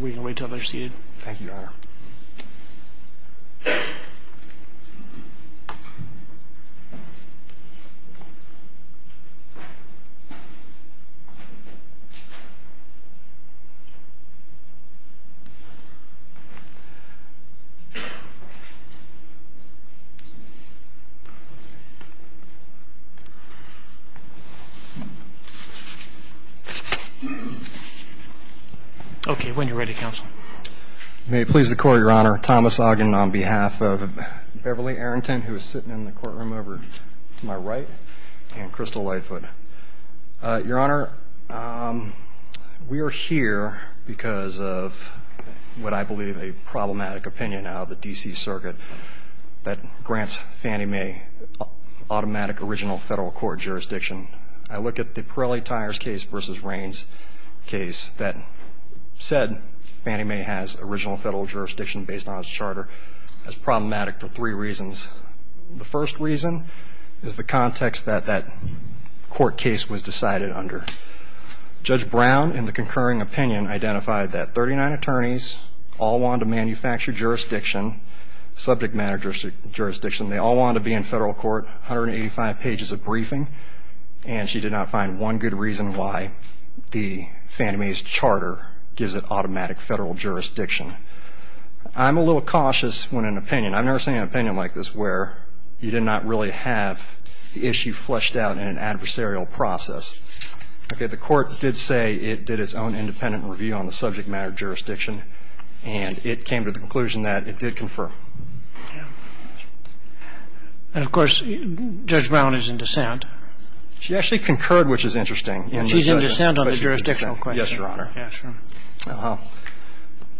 We can wait until they're seated. Thank you, Your Honor. Okay, when you're ready, Counsel. May it please the Court, Your Honor. Thomas Ogden on behalf of Beverly Arrington, who is sitting in the courtroom over to my right, and Crystal Lightfoot. Your Honor, we are here because of what I believe a problematic opinion out of the D.C. Circuit that grants Fannie Mae automatic original federal court jurisdiction. I look at the Pirelli Tires case versus Raines case that said Fannie Mae has original federal jurisdiction based on its charter. That's problematic for three reasons. The first reason is the context that that court case was decided under. Judge Brown, in the concurring opinion, identified that 39 attorneys all wanted to manufacture jurisdiction, subject matter jurisdiction. They all wanted to be in federal court, 185 pages of briefing, and she did not find one good reason why the Fannie Mae's charter gives it automatic federal jurisdiction. I'm a little cautious when an opinion, I've never seen an opinion like this where you did not really have the issue fleshed out in an adversarial process. Okay, the court did say it did its own independent review on the subject matter jurisdiction, and it came to the conclusion that it did confer. And of course, Judge Brown is in dissent. She actually concurred, which is interesting. She's in dissent on the jurisdictional question. Yes, Your Honor. Yeah, sure.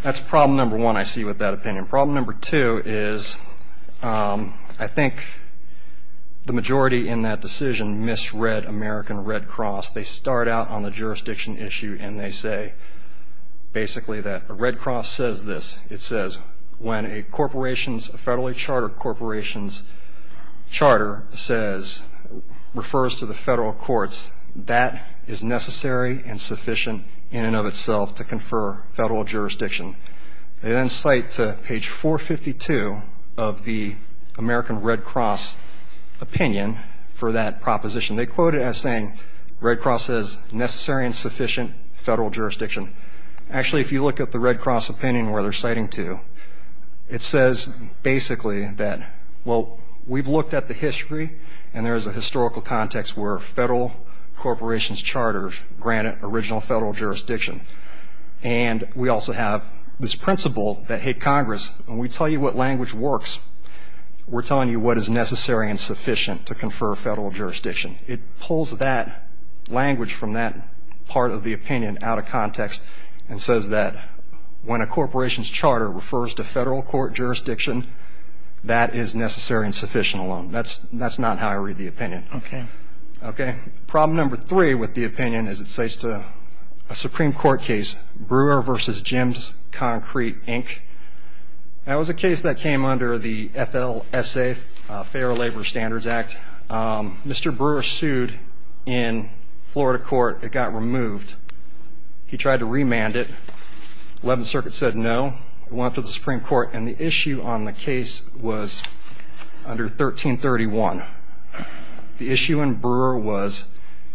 That's problem number one I see with that opinion. Problem number two is I think the majority in that decision misread American Red Cross. They start out on the jurisdiction issue, and they say basically that Red Cross says this. It says when a federally chartered corporation's charter refers to the federal courts, that is necessary and sufficient in and of itself to confer federal jurisdiction. They then cite to page 452 of the American Red Cross opinion for that proposition. They quote it as saying Red Cross says necessary and sufficient federal jurisdiction. Actually, if you look at the Red Cross opinion where they're citing to, it says basically that, well, we've looked at the history, and there's a historical context where a federal corporation's charter granted original federal jurisdiction. And we also have this principle that, hey, Congress, when we tell you what language works, we're telling you what is necessary and sufficient to confer federal jurisdiction. It pulls that language from that part of the opinion out of context and says that when a corporation's charter refers to federal court jurisdiction, that is necessary and sufficient alone. That's not how I read the opinion. Okay. Okay. Problem number three with the opinion is it says to a Supreme Court case, Brewer v. Jim's Concrete, Inc. That was a case that came under the FLSA, Fair Labor Standards Act. Mr. Brewer sued in Florida court. It got removed. He tried to remand it. Eleventh Circuit said no. It went up to the Supreme Court, and the issue on the case was under 1331. The issue in Brewer was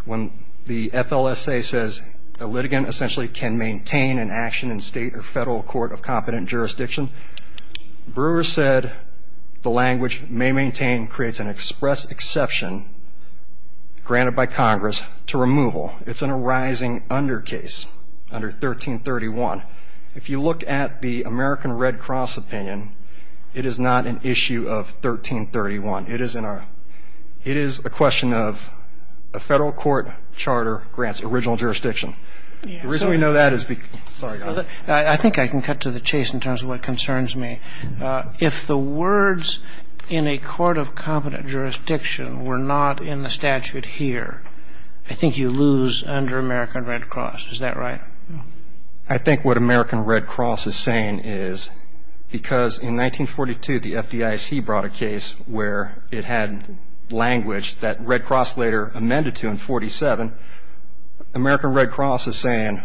when the FLSA says a litigant essentially can maintain an action in state or federal court of competent jurisdiction, Brewer said the language may maintain creates an express exception granted by Congress to removal. It's an arising under case under 1331. If you look at the American Red Cross opinion, it is not an issue of 1331. It is in our ‑‑ it is a question of a federal court charter grants original jurisdiction. The reason we know that is because ‑‑ sorry. I think I can cut to the chase in terms of what concerns me. If the words in a court of competent jurisdiction were not in the statute here, I think you lose under American Red Cross. Is that right? I think what American Red Cross is saying is because in 1942 the FDIC brought a case where it had language that Red Cross later amended to in 1947. American Red Cross is saying,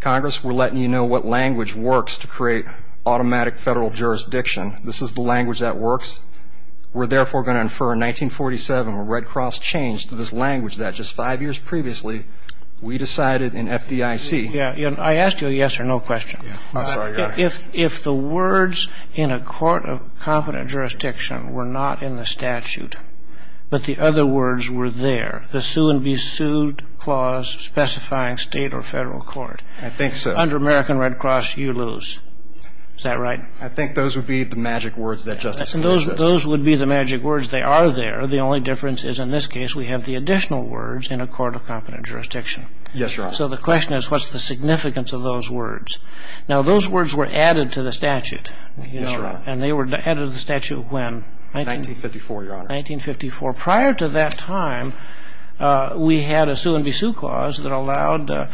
Congress, we're letting you know what language works to create automatic federal jurisdiction. This is the language that works. We're therefore going to infer in 1947 when Red Cross changed to this language that just five years previously we decided in FDIC. I asked you a yes or no question. I'm sorry. If the words in a court of competent jurisdiction were not in the statute but the other words were there, the sue and be sued clause specifying state or federal court. I think so. Under American Red Cross, you lose. Is that right? I think those would be the magic words that Justice Scalia says. Those would be the magic words. They are there. The only difference is in this case we have the additional words in a court of competent jurisdiction. Yes, Your Honor. So the question is what's the significance of those words? Now, those words were added to the statute. Yes, Your Honor. And they were added to the statute when? 1954, Your Honor. 1954. Prior to that time, we had a sue and be sued clause that allowed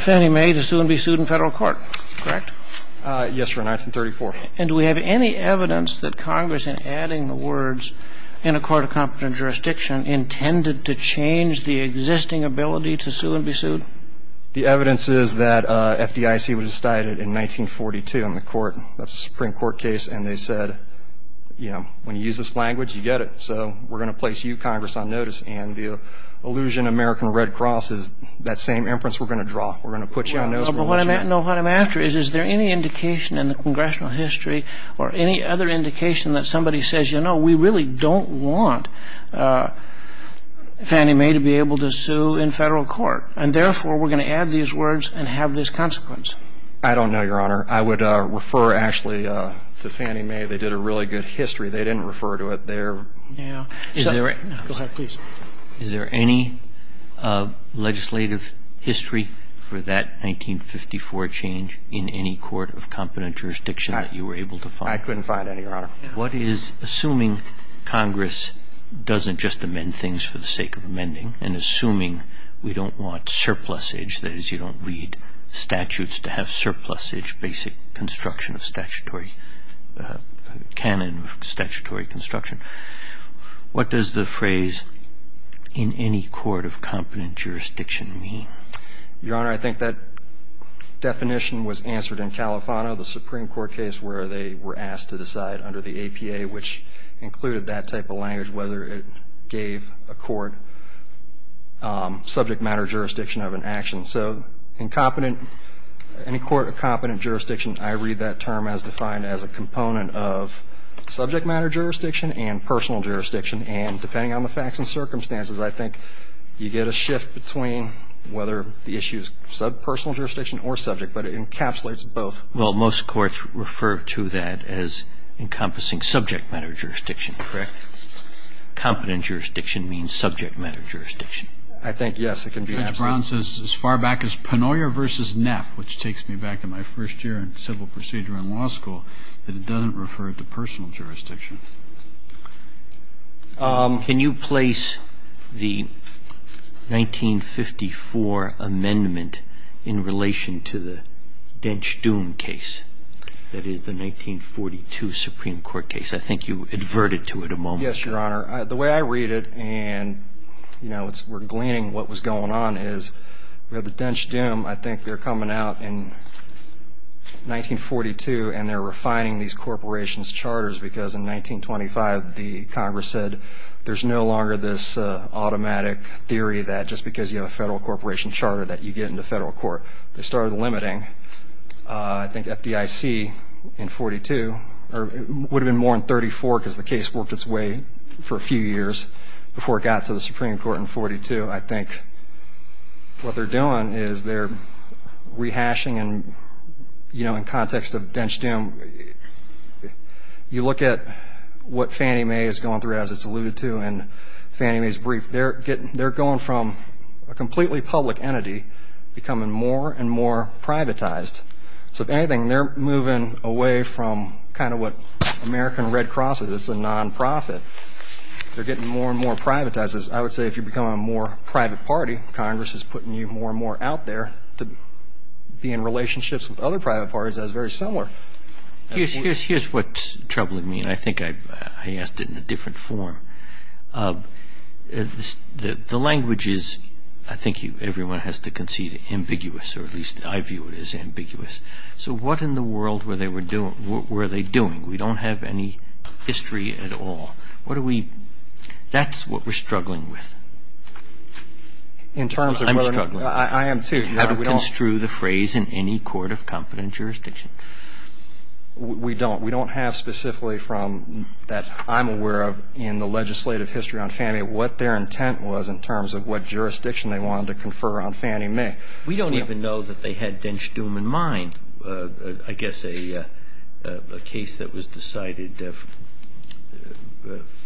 Fannie Mae to sue and be sued in federal court, correct? Yes, Your Honor, 1934. And do we have any evidence that Congress in adding the words in a court of competent jurisdiction intended to change the existing ability to sue and be sued? The evidence is that FDIC was decided in 1942 in the court. That's a Supreme Court case. And they said, you know, when you use this language, you get it. So we're going to place you, Congress, on notice. And the allusion American Red Cross is that same inference we're going to draw. We're going to put you on notice. But what I'm after is, is there any indication in the congressional history or any other indication that somebody says, you know, we really don't want Fannie Mae to be able to sue in federal court, and therefore we're going to add these words and have this consequence? I don't know, Your Honor. I would refer, actually, to Fannie Mae. They did a really good history. They didn't refer to it there. Yeah. Go ahead, please. Is there any legislative history for that 1954 change in any court of competent jurisdiction that you were able to find? I couldn't find any, Your Honor. What is, assuming Congress doesn't just amend things for the sake of amending and assuming we don't want surplusage, that is, we don't read statutes to have surplusage, basic construction of statutory, canon of statutory construction, what does the phrase in any court of competent jurisdiction mean? Your Honor, I think that definition was answered in Califano, the Supreme Court case where they were asked to decide under the APA, which included that type of language, whether it gave a court subject matter jurisdiction of an action. So in competent, any court of competent jurisdiction, I read that term as defined as a component of subject matter jurisdiction and personal jurisdiction. And depending on the facts and circumstances, I think you get a shift between whether the issue is sub-personal jurisdiction or subject, but it encapsulates both. Well, most courts refer to that as encompassing subject matter jurisdiction, correct? Competent jurisdiction means subject matter jurisdiction. I think, yes, it can be. Judge Brown says as far back as Pennoyer v. Neff, which takes me back to my first year in civil procedure in law school, that it doesn't refer to personal jurisdiction. Can you place the 1954 amendment in relation to the Dench-Doon case, that is, the 1942 Supreme Court case? I think you adverted to it a moment ago. Yes, Your Honor. The way I read it, and, you know, we're gleaning what was going on, is the Dench-Doon, I think they're coming out in 1942 and they're refining these corporations' charters, because in 1925 the Congress said there's no longer this automatic theory that just because you have a federal corporation charter that you get into federal court. They started limiting. I think FDIC in 1942, or it would have been more in 1934 because the case worked its way for a few years before it got to the Supreme Court in 1942. I think what they're doing is they're rehashing, and, you know, in context of Dench-Doon, you look at what Fannie Mae is going through, as it's alluded to, in Fannie Mae's brief. They're going from a completely public entity becoming more and more privatized. So, if anything, they're moving away from kind of what American Red Cross is. It's a nonprofit. They're getting more and more privatized. I would say if you become a more private party, Congress is putting you more and more out there to be in relationships with other private parties that are very similar. Here's what's troubling me, and I think I asked it in a different form. The language is, I think everyone has to concede, ambiguous, or at least I view it as ambiguous. So what in the world were they doing? We don't have any history at all. That's what we're struggling with. I'm struggling. I am too. How do we construe the phrase in any court of competent jurisdiction? We don't. We don't have specifically from that I'm aware of in the legislative history on Fannie, what their intent was in terms of what jurisdiction they wanted to confer on Fannie Mae. We don't even know that they had Dench Dume in mind, I guess a case that was decided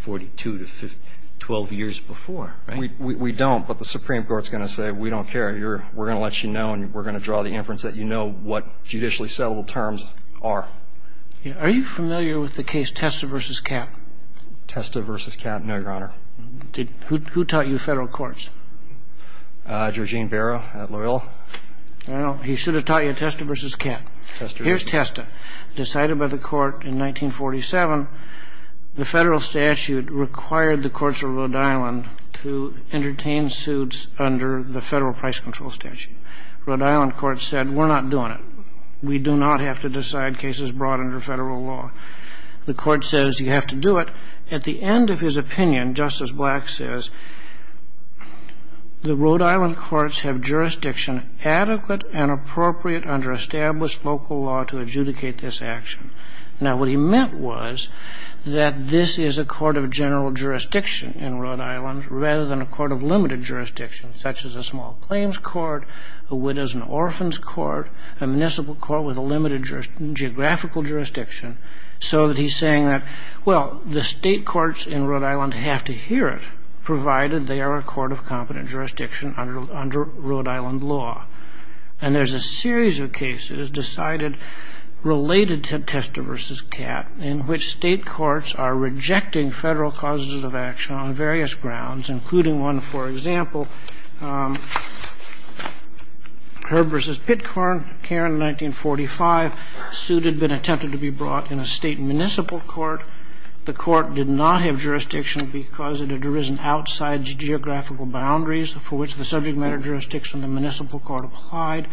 42 to 12 years before, right? We don't, but the Supreme Court is going to say we don't care. We're going to let you know and we're going to draw the inference that you know what judicially settled terms are. Are you familiar with the case Testa v. Capp? Testa v. Capp, no, Your Honor. Who taught you federal courts? Georgene Barrow at Loyola. Well, he should have taught you Testa v. Capp. Here's Testa. Decided by the court in 1947, the federal statute required the courts of Rhode Island to entertain suits under the federal price control statute. Rhode Island court said we're not doing it. We do not have to decide cases brought under federal law. The court says you have to do it. At the end of his opinion, Justice Black says, the Rhode Island courts have jurisdiction adequate and appropriate under established local law to adjudicate this action. Now, what he meant was that this is a court of general jurisdiction in Rhode Island rather than a court of limited jurisdiction, such as a small claims court, a widows and orphans court, a municipal court with a limited geographical jurisdiction, so that he's saying that, well, the state courts in Rhode Island have to hear it, provided they are a court of competent jurisdiction under Rhode Island law. And there's a series of cases decided related to Testa v. Capp in which state courts are rejecting federal causes of action on various grounds, including one, for example, Herb v. Pitcorn, Karen, 1945. That suit had been attempted to be brought in a state municipal court. The court did not have jurisdiction because it had arisen outside geographical boundaries for which the subject matter jurisdiction of the municipal court applied.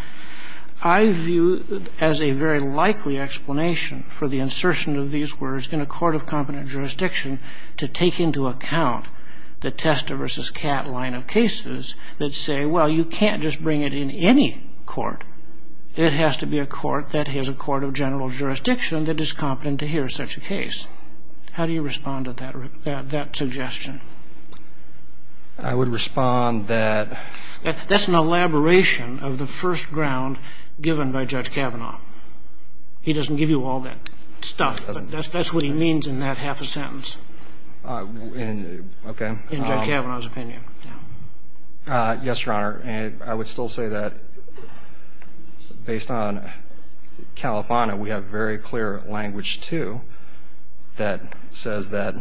I view it as a very likely explanation for the insertion of these words in a court of competent jurisdiction to take into account the Testa v. Capp line of cases that say, well, you can't just bring it in any court. It has to be a court that is a court of general jurisdiction that is competent to hear such a case. How do you respond to that suggestion? I would respond that — That's an elaboration of the first ground given by Judge Kavanaugh. He doesn't give you all that stuff, but that's what he means in that half a sentence. Okay. In Judge Kavanaugh's opinion. Yes, Your Honor. I would still say that based on Califano, we have very clear language, too, that says that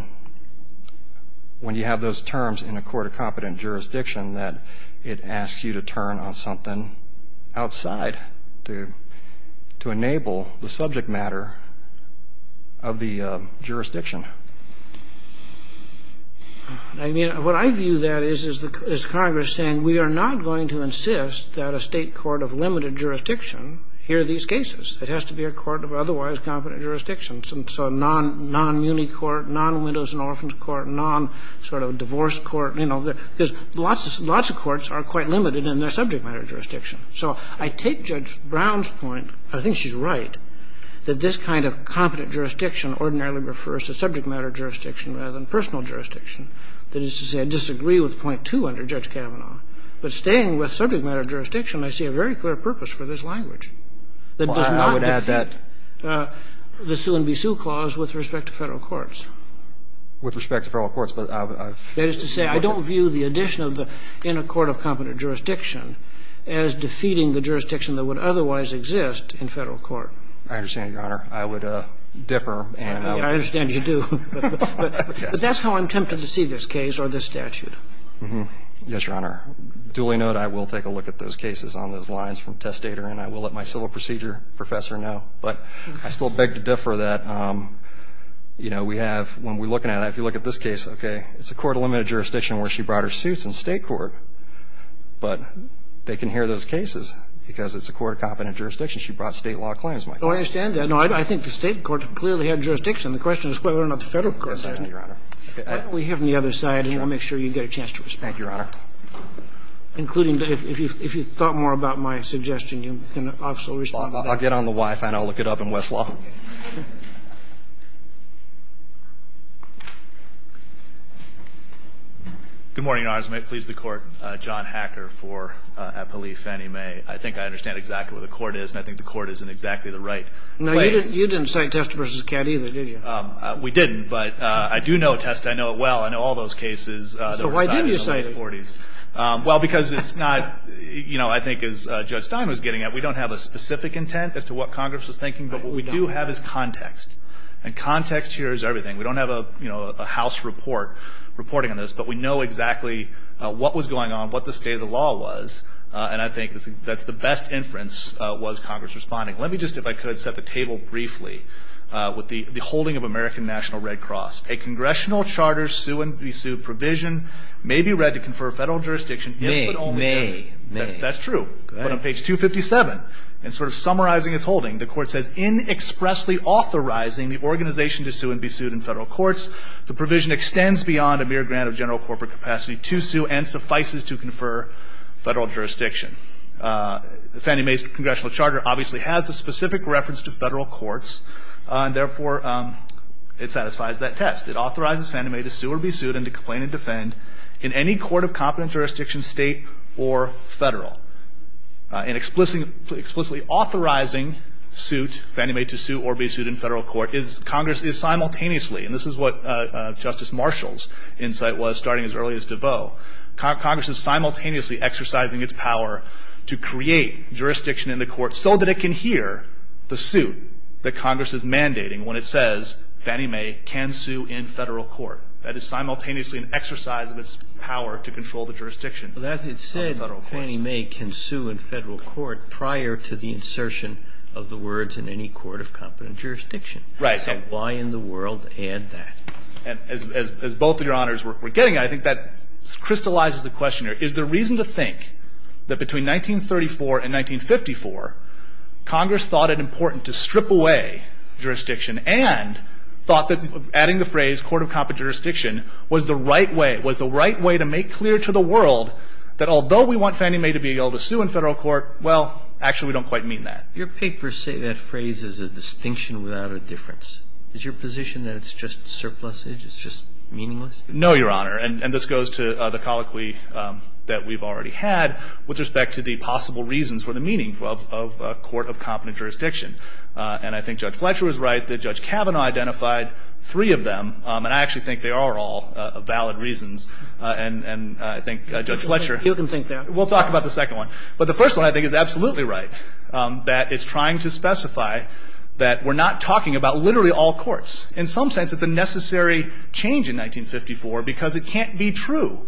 when you have those terms in a court of competent jurisdiction, that it asks you to turn on something outside to enable the subject matter of the jurisdiction. I mean, what I view that is, is Congress saying, we are not going to insist that a state court of limited jurisdiction hear these cases. It has to be a court of otherwise competent jurisdiction. So non-muni court, non-windows and orphans court, non-sort of divorce court, you know, because lots of courts are quite limited in their subject matter jurisdiction. So I take Judge Brown's point, and I think she's right, that this kind of competent jurisdiction ordinarily refers to subject matter jurisdiction rather than personal jurisdiction. That is to say, I disagree with point two under Judge Kavanaugh, but staying with subject matter jurisdiction, I see a very clear purpose for this language. Well, I would add that. That does not defeat the sue-and-be-sue clause with respect to Federal courts. With respect to Federal courts, but I've. That is to say, I don't view the addition of the in a court of competent jurisdiction as defeating the jurisdiction that would otherwise exist in Federal court. I understand, Your Honor. I would differ. I understand you do. But that's how I'm tempted to see this case or this statute. Yes, Your Honor. Duly noted, I will take a look at those cases on those lines from testator, and I will let my civil procedure professor know. But I still beg to differ that, you know, we have, when we look at it, if you look at this case, okay, it's a court of limited jurisdiction where she brought her suits in State court, but they can hear those cases because it's a court of competent jurisdiction. She brought State law claims. I understand that. No, I think the State court clearly had jurisdiction. The question is whether or not the Federal court did. Yes, Your Honor. We have on the other side, and I'll make sure you get a chance to respond. Thank you, Your Honor. Including, if you thought more about my suggestion, you can also respond. I'll get on the Wi-Fi and I'll look it up in Westlaw. Good morning, Your Honors. May it please the Court. John Hacker for Appellee Fannie Mae. I think I understand exactly what the court is, and I think the court is in exactly the right place. Now, you didn't cite Testa v. Cad either, did you? We didn't, but I do know Testa. I know it well. I know all those cases that were cited in the 1940s. So why didn't you cite it? Well, because it's not, you know, I think as Judge Stein was getting at, we don't have a specific intent as to what Congress was thinking. But what we do have is context. And context here is everything. We don't have a, you know, a House report reporting on this. But we know exactly what was going on, what the state of the law was. And I think that's the best inference was Congress responding. Let me just, if I could, set the table briefly with the holding of American National Red Cross. A congressional charter sue-and-be-sued provision may be read to confer federal jurisdiction if and only if. May. May. That's true. Go ahead. But on page 257, and sort of summarizing its holding, the court says, in expressly authorizing the organization to sue-and-be-sued in federal courts, the provision extends beyond a mere grant of general corporate capacity to sue and suffices to confer federal jurisdiction. Fannie Mae's congressional charter obviously has the specific reference to federal courts. And therefore, it satisfies that test. It authorizes Fannie Mae to sue-or-be-sued and to complain and defend in any court of competent jurisdiction, state or federal. In explicitly authorizing suit, Fannie Mae to sue-or-be-sued in federal court, Congress is simultaneously, and this is what Justice Marshall's insight was, starting as early as DeVos, Congress is simultaneously exercising its power to create jurisdiction in the court so that it can hear the suit that Congress is mandating when it says, Fannie Mae can sue in federal court. That is simultaneously an exercise of its power to control the jurisdiction of the federal courts. Roberts. Kagan. That is said, Fannie Mae can sue in federal court prior to the insertion of the words in any court of competent jurisdiction. Right. So why in the world add that? As both of Your Honors were getting at, I think that crystallizes the question Is there reason to think that between 1934 and 1954, Congress thought it important to strip away jurisdiction and thought that adding the phrase court of competent jurisdiction was the right way, was the right way to make clear to the world that although we want Fannie Mae to be able to sue in federal court, well, actually we don't quite mean that. Your papers say that phrase is a distinction without a difference. Is your position that it's just surplusage, it's just meaningless? No, Your Honor. And this goes to the colloquy that we've already had with respect to the possible reasons for the meaning of court of competent jurisdiction. And I think Judge Fletcher was right that Judge Kavanaugh identified three of them. And I actually think they are all valid reasons. And I think Judge Fletcher. You can think that. We'll talk about the second one. But the first one, I think, is absolutely right, that it's trying to specify that we're not talking about literally all courts. In some sense, it's a necessary change in 1954 because it can't be true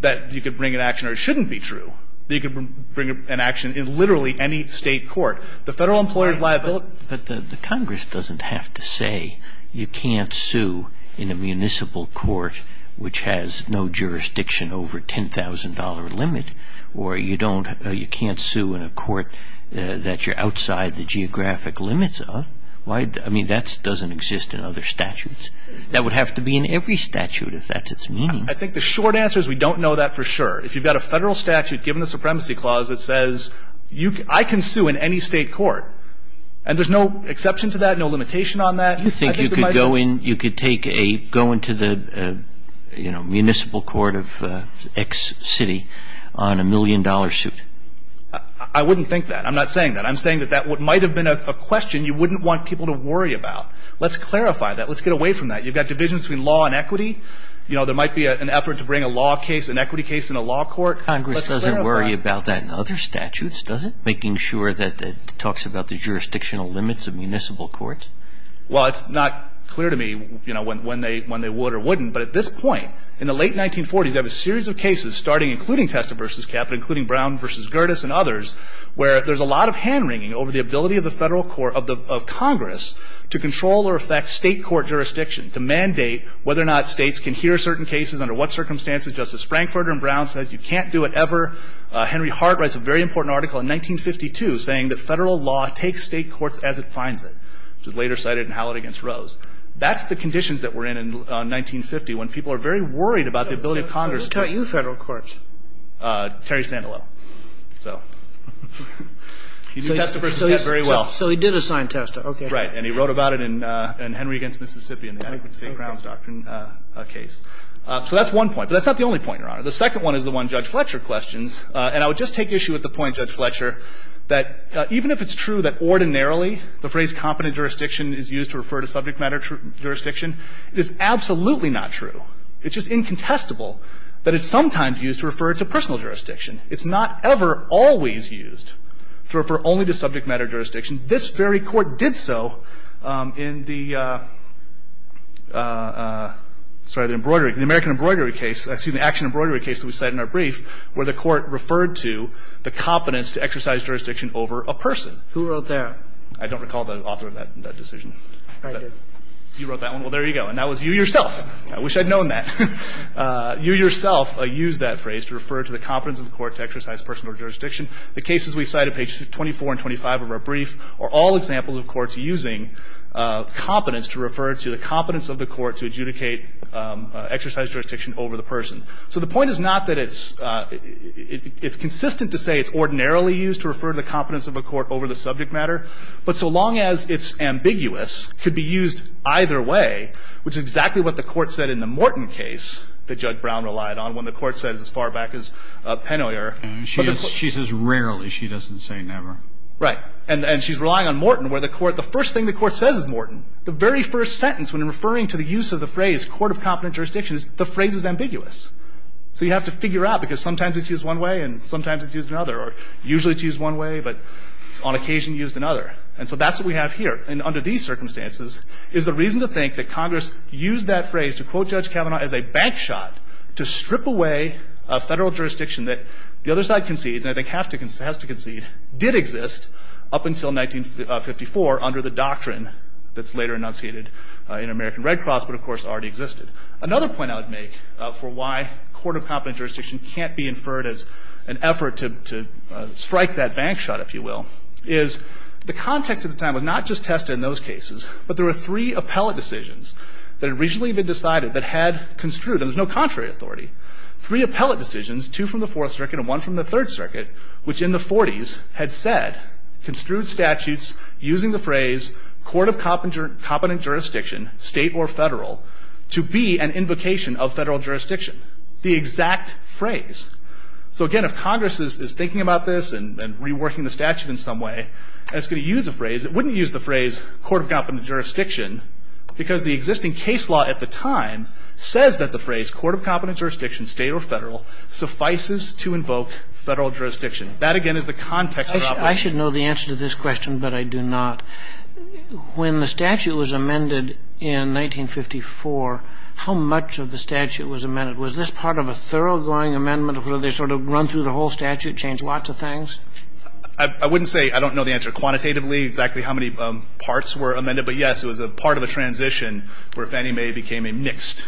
that you could bring an action or it shouldn't be true. You can bring an action in literally any state court. The federal employer's liability. But the Congress doesn't have to say you can't sue in a municipal court which has no jurisdiction over a $10,000 limit, or you don't or you can't sue in a court that you're outside the geographic limits of. Why? I mean, that doesn't exist in other statutes. That would have to be in every statute if that's its meaning. I think the short answer is we don't know that for sure. If you've got a federal statute given the Supremacy Clause that says I can sue in any state court, and there's no exception to that, no limitation on that, I think it might be true. You think you could go in, you could take a, go into the, you know, municipal court of X city on a million-dollar suit? I wouldn't think that. I'm not saying that. I'm saying that that might have been a question you wouldn't want people to worry about. Let's clarify that. Let's get away from that. You've got divisions between law and equity. You know, there might be an effort to bring a law case, an equity case in a law court. Let's clarify. Congress doesn't worry about that in other statutes, does it, making sure that it talks about the jurisdictional limits of municipal courts? Well, it's not clear to me, you know, when they would or wouldn't, but at this point, in the late 1940s, you have a series of cases starting, including Testa v. Caput, including Brown v. Gerdes and others, where there's a lot of hand-wringing over the ability of the federal court, of Congress, to control or affect state court jurisdiction, to mandate whether or not states can hear certain cases, under what circumstances. Justice Frankfurter and Brown says you can't do it ever. Henry Hart writes a very important article in 1952 saying that federal law takes state courts as it finds it, which is later cited in Hallett v. Rose. That's the conditions that we're in in 1950, when people are very worried about the ability of Congress to ---- So who taught you federal courts? Terry Sandilow. So he did Testa v. Caput very well. So he did assign Testa. Okay. Right. And he wrote about it in Henry v. Mississippi in the Adequate State Grounds Doctrine case. So that's one point. But that's not the only point, Your Honor. The second one is the one Judge Fletcher questions. And I would just take issue with the point, Judge Fletcher, that even if it's true that ordinarily the phrase competent jurisdiction is used to refer to subject matter jurisdiction, it is absolutely not true. It's just incontestable that it's sometimes used to refer to personal jurisdiction. It's not ever always used to refer only to subject matter jurisdiction. This very court did so in the ---- sorry, the embroidery, the American embroidery case, excuse me, action embroidery case that we cite in our brief where the court referred to the competence to exercise jurisdiction over a person. Who wrote that? I don't recall the author of that decision. I did. You wrote that one? Well, there you go. And that was you yourself. I wish I'd known that. You yourself used that phrase to refer to the competence of the court to exercise personal jurisdiction. The cases we cite at page 24 and 25 of our brief are all examples of courts using competence to refer to the competence of the court to adjudicate exercise jurisdiction over the person. So the point is not that it's consistent to say it's ordinarily used to refer to the competence of a court over the subject matter, but so long as it's ambiguous, could be used either way, which is exactly what the Court said in the Morton case that Judge Brown relied on when the Court said it's as far back as Pennoyer. She says rarely. She doesn't say never. Right. And she's relying on Morton where the first thing the Court says is Morton. The very first sentence when referring to the use of the phrase court of competence jurisdiction, the phrase is ambiguous. So you have to figure out because sometimes it's used one way and sometimes it's used another. Or usually it's used one way, but on occasion used another. And so that's what we have here. And under these circumstances is the reason to think that Congress used that phrase to quote Judge Kavanaugh as a bank shot to strip away a Federal jurisdiction that the other side concedes, and I think has to concede, did exist up until 1954 under the doctrine that's later enunciated in American Red Cross, but of course already existed. Another point I would make for why court of competence jurisdiction can't be inferred as an effort to strike that bank shot, if you will, is the context at the time was not just tested in those cases, but there were three appellate decisions that had recently been decided that had construed, and there's no contrary authority, three appellate decisions, two from the Fourth Circuit and one from the Third Circuit, which in the 40s had said, construed statutes using the phrase court of competence jurisdiction, state or Federal, to be an invocation of Federal jurisdiction. The exact phrase. So again, if Congress is thinking about this and reworking the statute in some way, it's going to use a phrase. It wouldn't use the phrase court of competence jurisdiction because the existing case law at the time says that the phrase court of competence jurisdiction, state or Federal, suffices to invoke Federal jurisdiction. That, again, is the context. I should know the answer to this question, but I do not. When the statute was amended in 1954, how much of the statute was amended? Was this part of a thoroughgoing amendment where they sort of run through the whole statute, change lots of things? I wouldn't say I don't know the answer quantitatively, exactly how many parts were amended. And I'm not sure if any may have become a mixed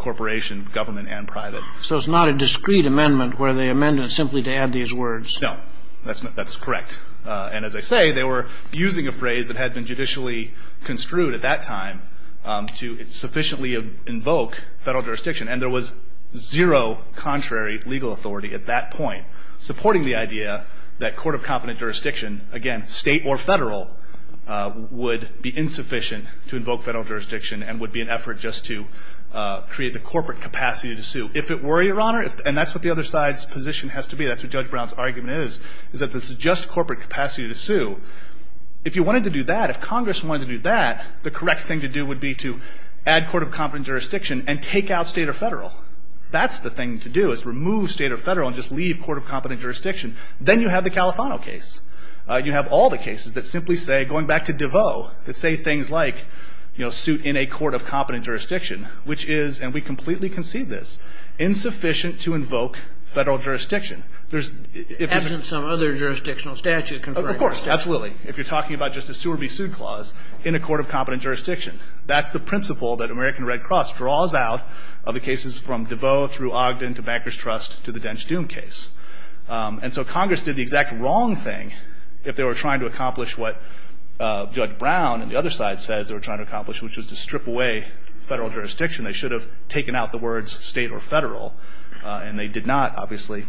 corporation, government and private. So it's not a discrete amendment where they amended it simply to add these words? No. That's correct. And as I say, they were using a phrase that had been judicially construed at that time to sufficiently invoke Federal jurisdiction. And there was zero contrary legal authority at that point supporting the idea that jurisdiction, again, state or Federal, would be insufficient to invoke Federal jurisdiction and would be an effort just to create the corporate capacity to sue. If it were, Your Honor, and that's what the other side's position has to be, that's what Judge Brown's argument is, is that this is just corporate capacity to sue. If you wanted to do that, if Congress wanted to do that, the correct thing to do would be to add court of competence jurisdiction and take out state or Federal. That's the thing to do is remove state or Federal and just leave court of competence jurisdiction. Then you have the Califano case. You have all the cases that simply say, going back to DeVoe, that say things like, you know, suit in a court of competence jurisdiction, which is, and we completely concede this, insufficient to invoke Federal jurisdiction. Absent some other jurisdictional statute. Of course. That's Willie. If you're talking about just a sue or be sued clause in a court of competence jurisdiction. That's the principle that American Red Cross draws out of the cases from DeVoe through Ogden to Banker's Trust to the Dench Doom case. And so Congress did the exact wrong thing if they were trying to accomplish what Judge Brown and the other side says they were trying to accomplish, which was to strip away Federal jurisdiction. They should have taken out the words state or Federal. And they did not, obviously,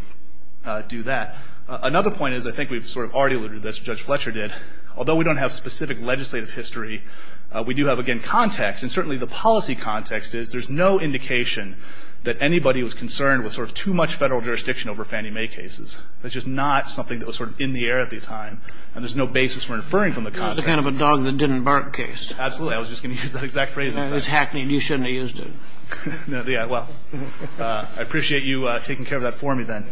do that. Another point is, I think we've sort of already alluded to this, Judge Fletcher did. Although we don't have specific legislative history, we do have, again, context. And certainly the policy context is there's no indication that anybody was concerned with sort of too much Federal jurisdiction over Fannie Mae cases. That's just not something that was sort of in the air at the time. And there's no basis for inferring from the context. This is kind of a dog-that-didn't-bark case. Absolutely. I was just going to use that exact phrase. It was hackneyed. You shouldn't have used it. Yeah. Well, I appreciate you taking care of that for me, then,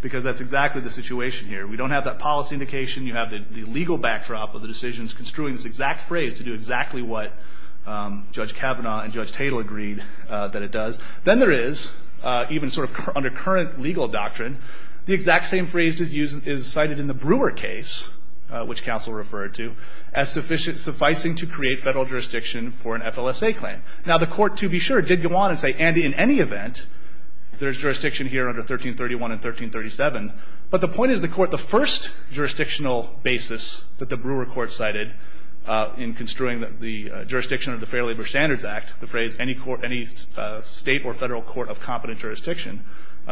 because that's exactly the situation here. We don't have that policy indication. You have the legal backdrop of the decisions construing this exact phrase to do exactly what Judge Kavanaugh and Judge Tatel agreed that it does. Then there is, even sort of under current legal doctrine, the exact same phrase is cited in the Brewer case, which counsel referred to, as sufficient, sufficing to create Federal jurisdiction for an FLSA claim. Now, the Court, to be sure, did go on and say, Andy, in any event, there's jurisdiction here under 1331 and 1337. But the point is the Court, the first jurisdictional basis that the Brewer Court cited in construing the jurisdiction of the Fair Labor Standards Act, the phrase any state or federal court of competent jurisdiction,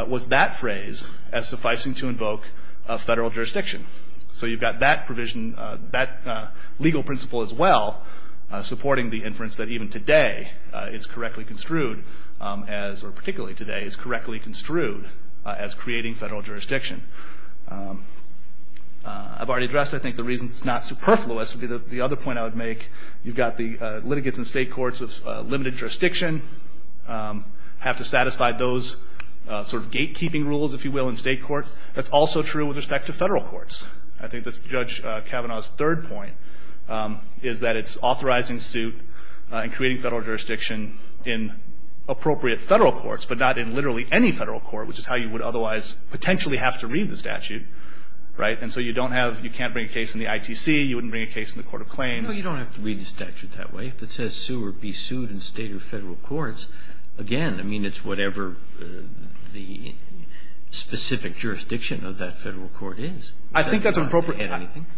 was that phrase as sufficing to invoke Federal jurisdiction. So you've got that provision, that legal principle as well, supporting the inference that even today it's correctly construed as, or particularly today, it's correctly construed as creating Federal jurisdiction. I've already addressed, I think, the reasons it's not superfluous. The other point I would make, you've got the litigates in state courts of limited jurisdiction have to satisfy those sort of gatekeeping rules, if you will, in state courts. That's also true with respect to Federal courts. I think that's Judge Kavanaugh's third point, is that it's authorizing suit and creating Federal jurisdiction in appropriate Federal courts, but not in literally any Federal court, which is how you would otherwise potentially have to read the statute. Right? And so you don't have, you can't bring a case in the ITC. You wouldn't bring a case in the court of claims. You know, you don't have to read the statute that way. If it says sue or be sued in state or Federal courts, again, I mean, it's whatever the specific jurisdiction of that Federal court is. I think that's an appropriate.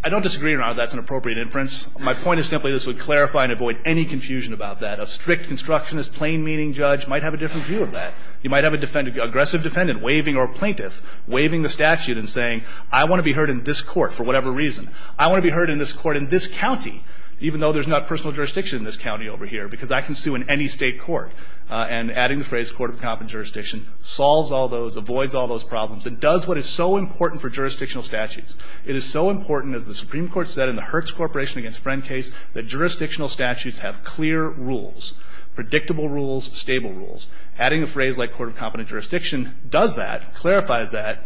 I don't disagree or not that's an appropriate inference. My point is simply this would clarify and avoid any confusion about that. A strict constructionist, plain-meaning judge might have a different view of that. You might have a defendant, aggressive defendant, waiving or plaintiff, waiving the statute and saying, I want to be heard in this court for whatever reason. I want to be heard in this court in this county, even though there's not personal jurisdiction in this county over here, because I can sue in any state court. And adding the phrase court of competent jurisdiction solves all those, avoids all those problems, and does what is so important for jurisdictional statutes. It is so important, as the Supreme Court said in the Hertz Corporation against Friend case, that jurisdictional statutes have clear rules, predictable rules, stable rules. Adding a phrase like court of competent jurisdiction does that, clarifies that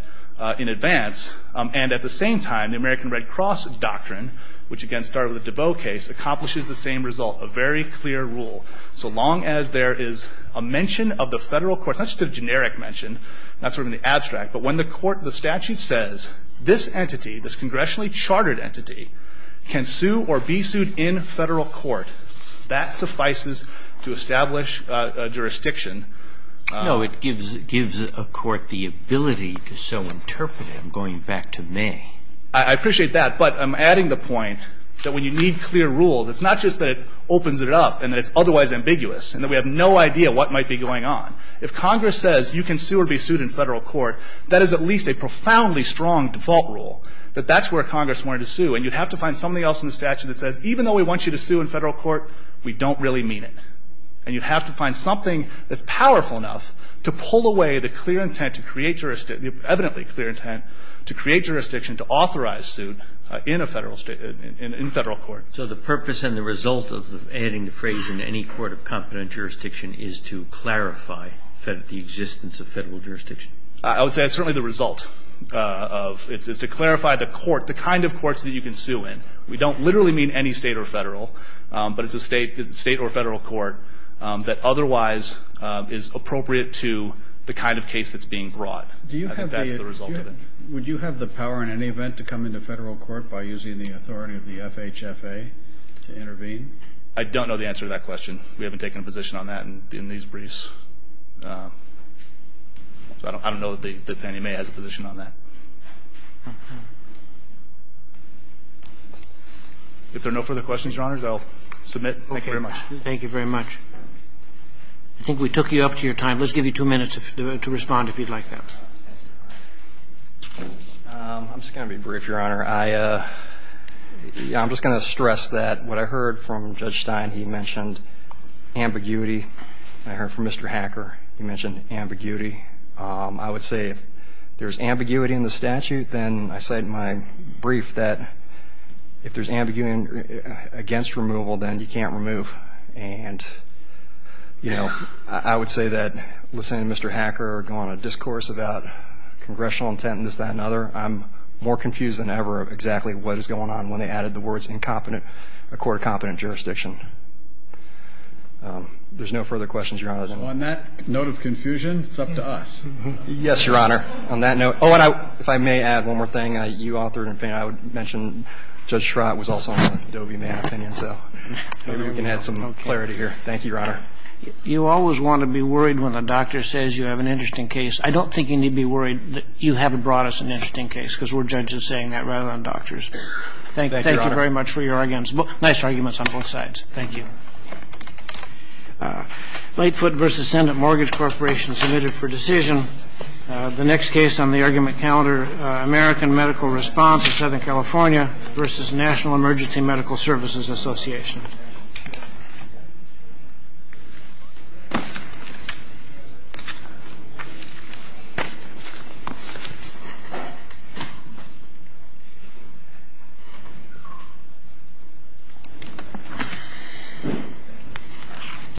in advance. And at the same time, the American Red Cross doctrine, which again started with the DeVoe case, accomplishes the same result, a very clear rule. So long as there is a mention of the Federal court, not just a generic mention, not sort of in the abstract, but when the court, the statute says this entity, this congressionally chartered entity, can sue or be sued in Federal court, that suffices to establish a jurisdiction. No. It gives a court the ability to so interpret it. I'm going back to May. I appreciate that. But I'm adding the point that when you need clear rules, it's not just that it opens it up and that it's otherwise ambiguous and that we have no idea what might be going on. If Congress says you can sue or be sued in Federal court, that is at least a profoundly strong default rule, that that's where Congress wanted to sue. And you'd have to find something else in the statute that says even though we want you to sue in Federal court, we don't really mean it. And you'd have to find something that's powerful enough to pull away the clear intent to create jurisdiction, the evidently clear intent to create jurisdiction to authorize suit in a Federal state, in Federal court. So the purpose and the result of adding the phrase in any court of competent jurisdiction is to clarify the existence of Federal jurisdiction? I would say that's certainly the result of, is to clarify the court, the kind of courts that you can sue in. We don't literally mean any state or Federal, but it's a state or Federal court that otherwise is appropriate to the kind of case that's being brought. I think that's the result of it. Would you have the power in any event to come into Federal court by using the authority of the FHFA to intervene? I don't know the answer to that question. We haven't taken a position on that in these briefs. So I don't know that Fannie Mae has a position on that. If there are no further questions, Your Honor, I'll submit. Thank you very much. Thank you very much. I think we took you up to your time. Let's give you two minutes to respond if you'd like that. I'm just going to be brief, Your Honor. I'm just going to stress that what I heard from Judge Stein, he mentioned ambiguity. I heard from Mr. Hacker, he mentioned ambiguity. I would say if there's ambiguity in the statute, then I cite in my brief that if there's ambiguity against removal, then you can't remove. And, you know, I would say that listening to Mr. Hacker go on a discourse about congressional intent and this, that, and other, I'm more confused than ever exactly what is going on when they added the words incompetent, a court of competent jurisdiction. There's no further questions, Your Honor. On that note of confusion, it's up to us. Yes, Your Honor. On that note. Oh, and if I may add one more thing, you authored, I would mention Judge Schrott was also on the Fannie Mae opinion, so maybe we can add some clarity here. Thank you, Your Honor. You always want to be worried when a doctor says you have an interesting case. I don't think you need to be worried that you haven't brought us an interesting case, because we're judges saying that rather than doctors. Thank you very much for your arguments. Nice arguments on both sides. Thank you. Late foot versus Senate Mortgage Corporation submitted for decision. The next case on the argument calendar, American Medical Response in Southern California versus National Emergency Medical Services Association. Thank you.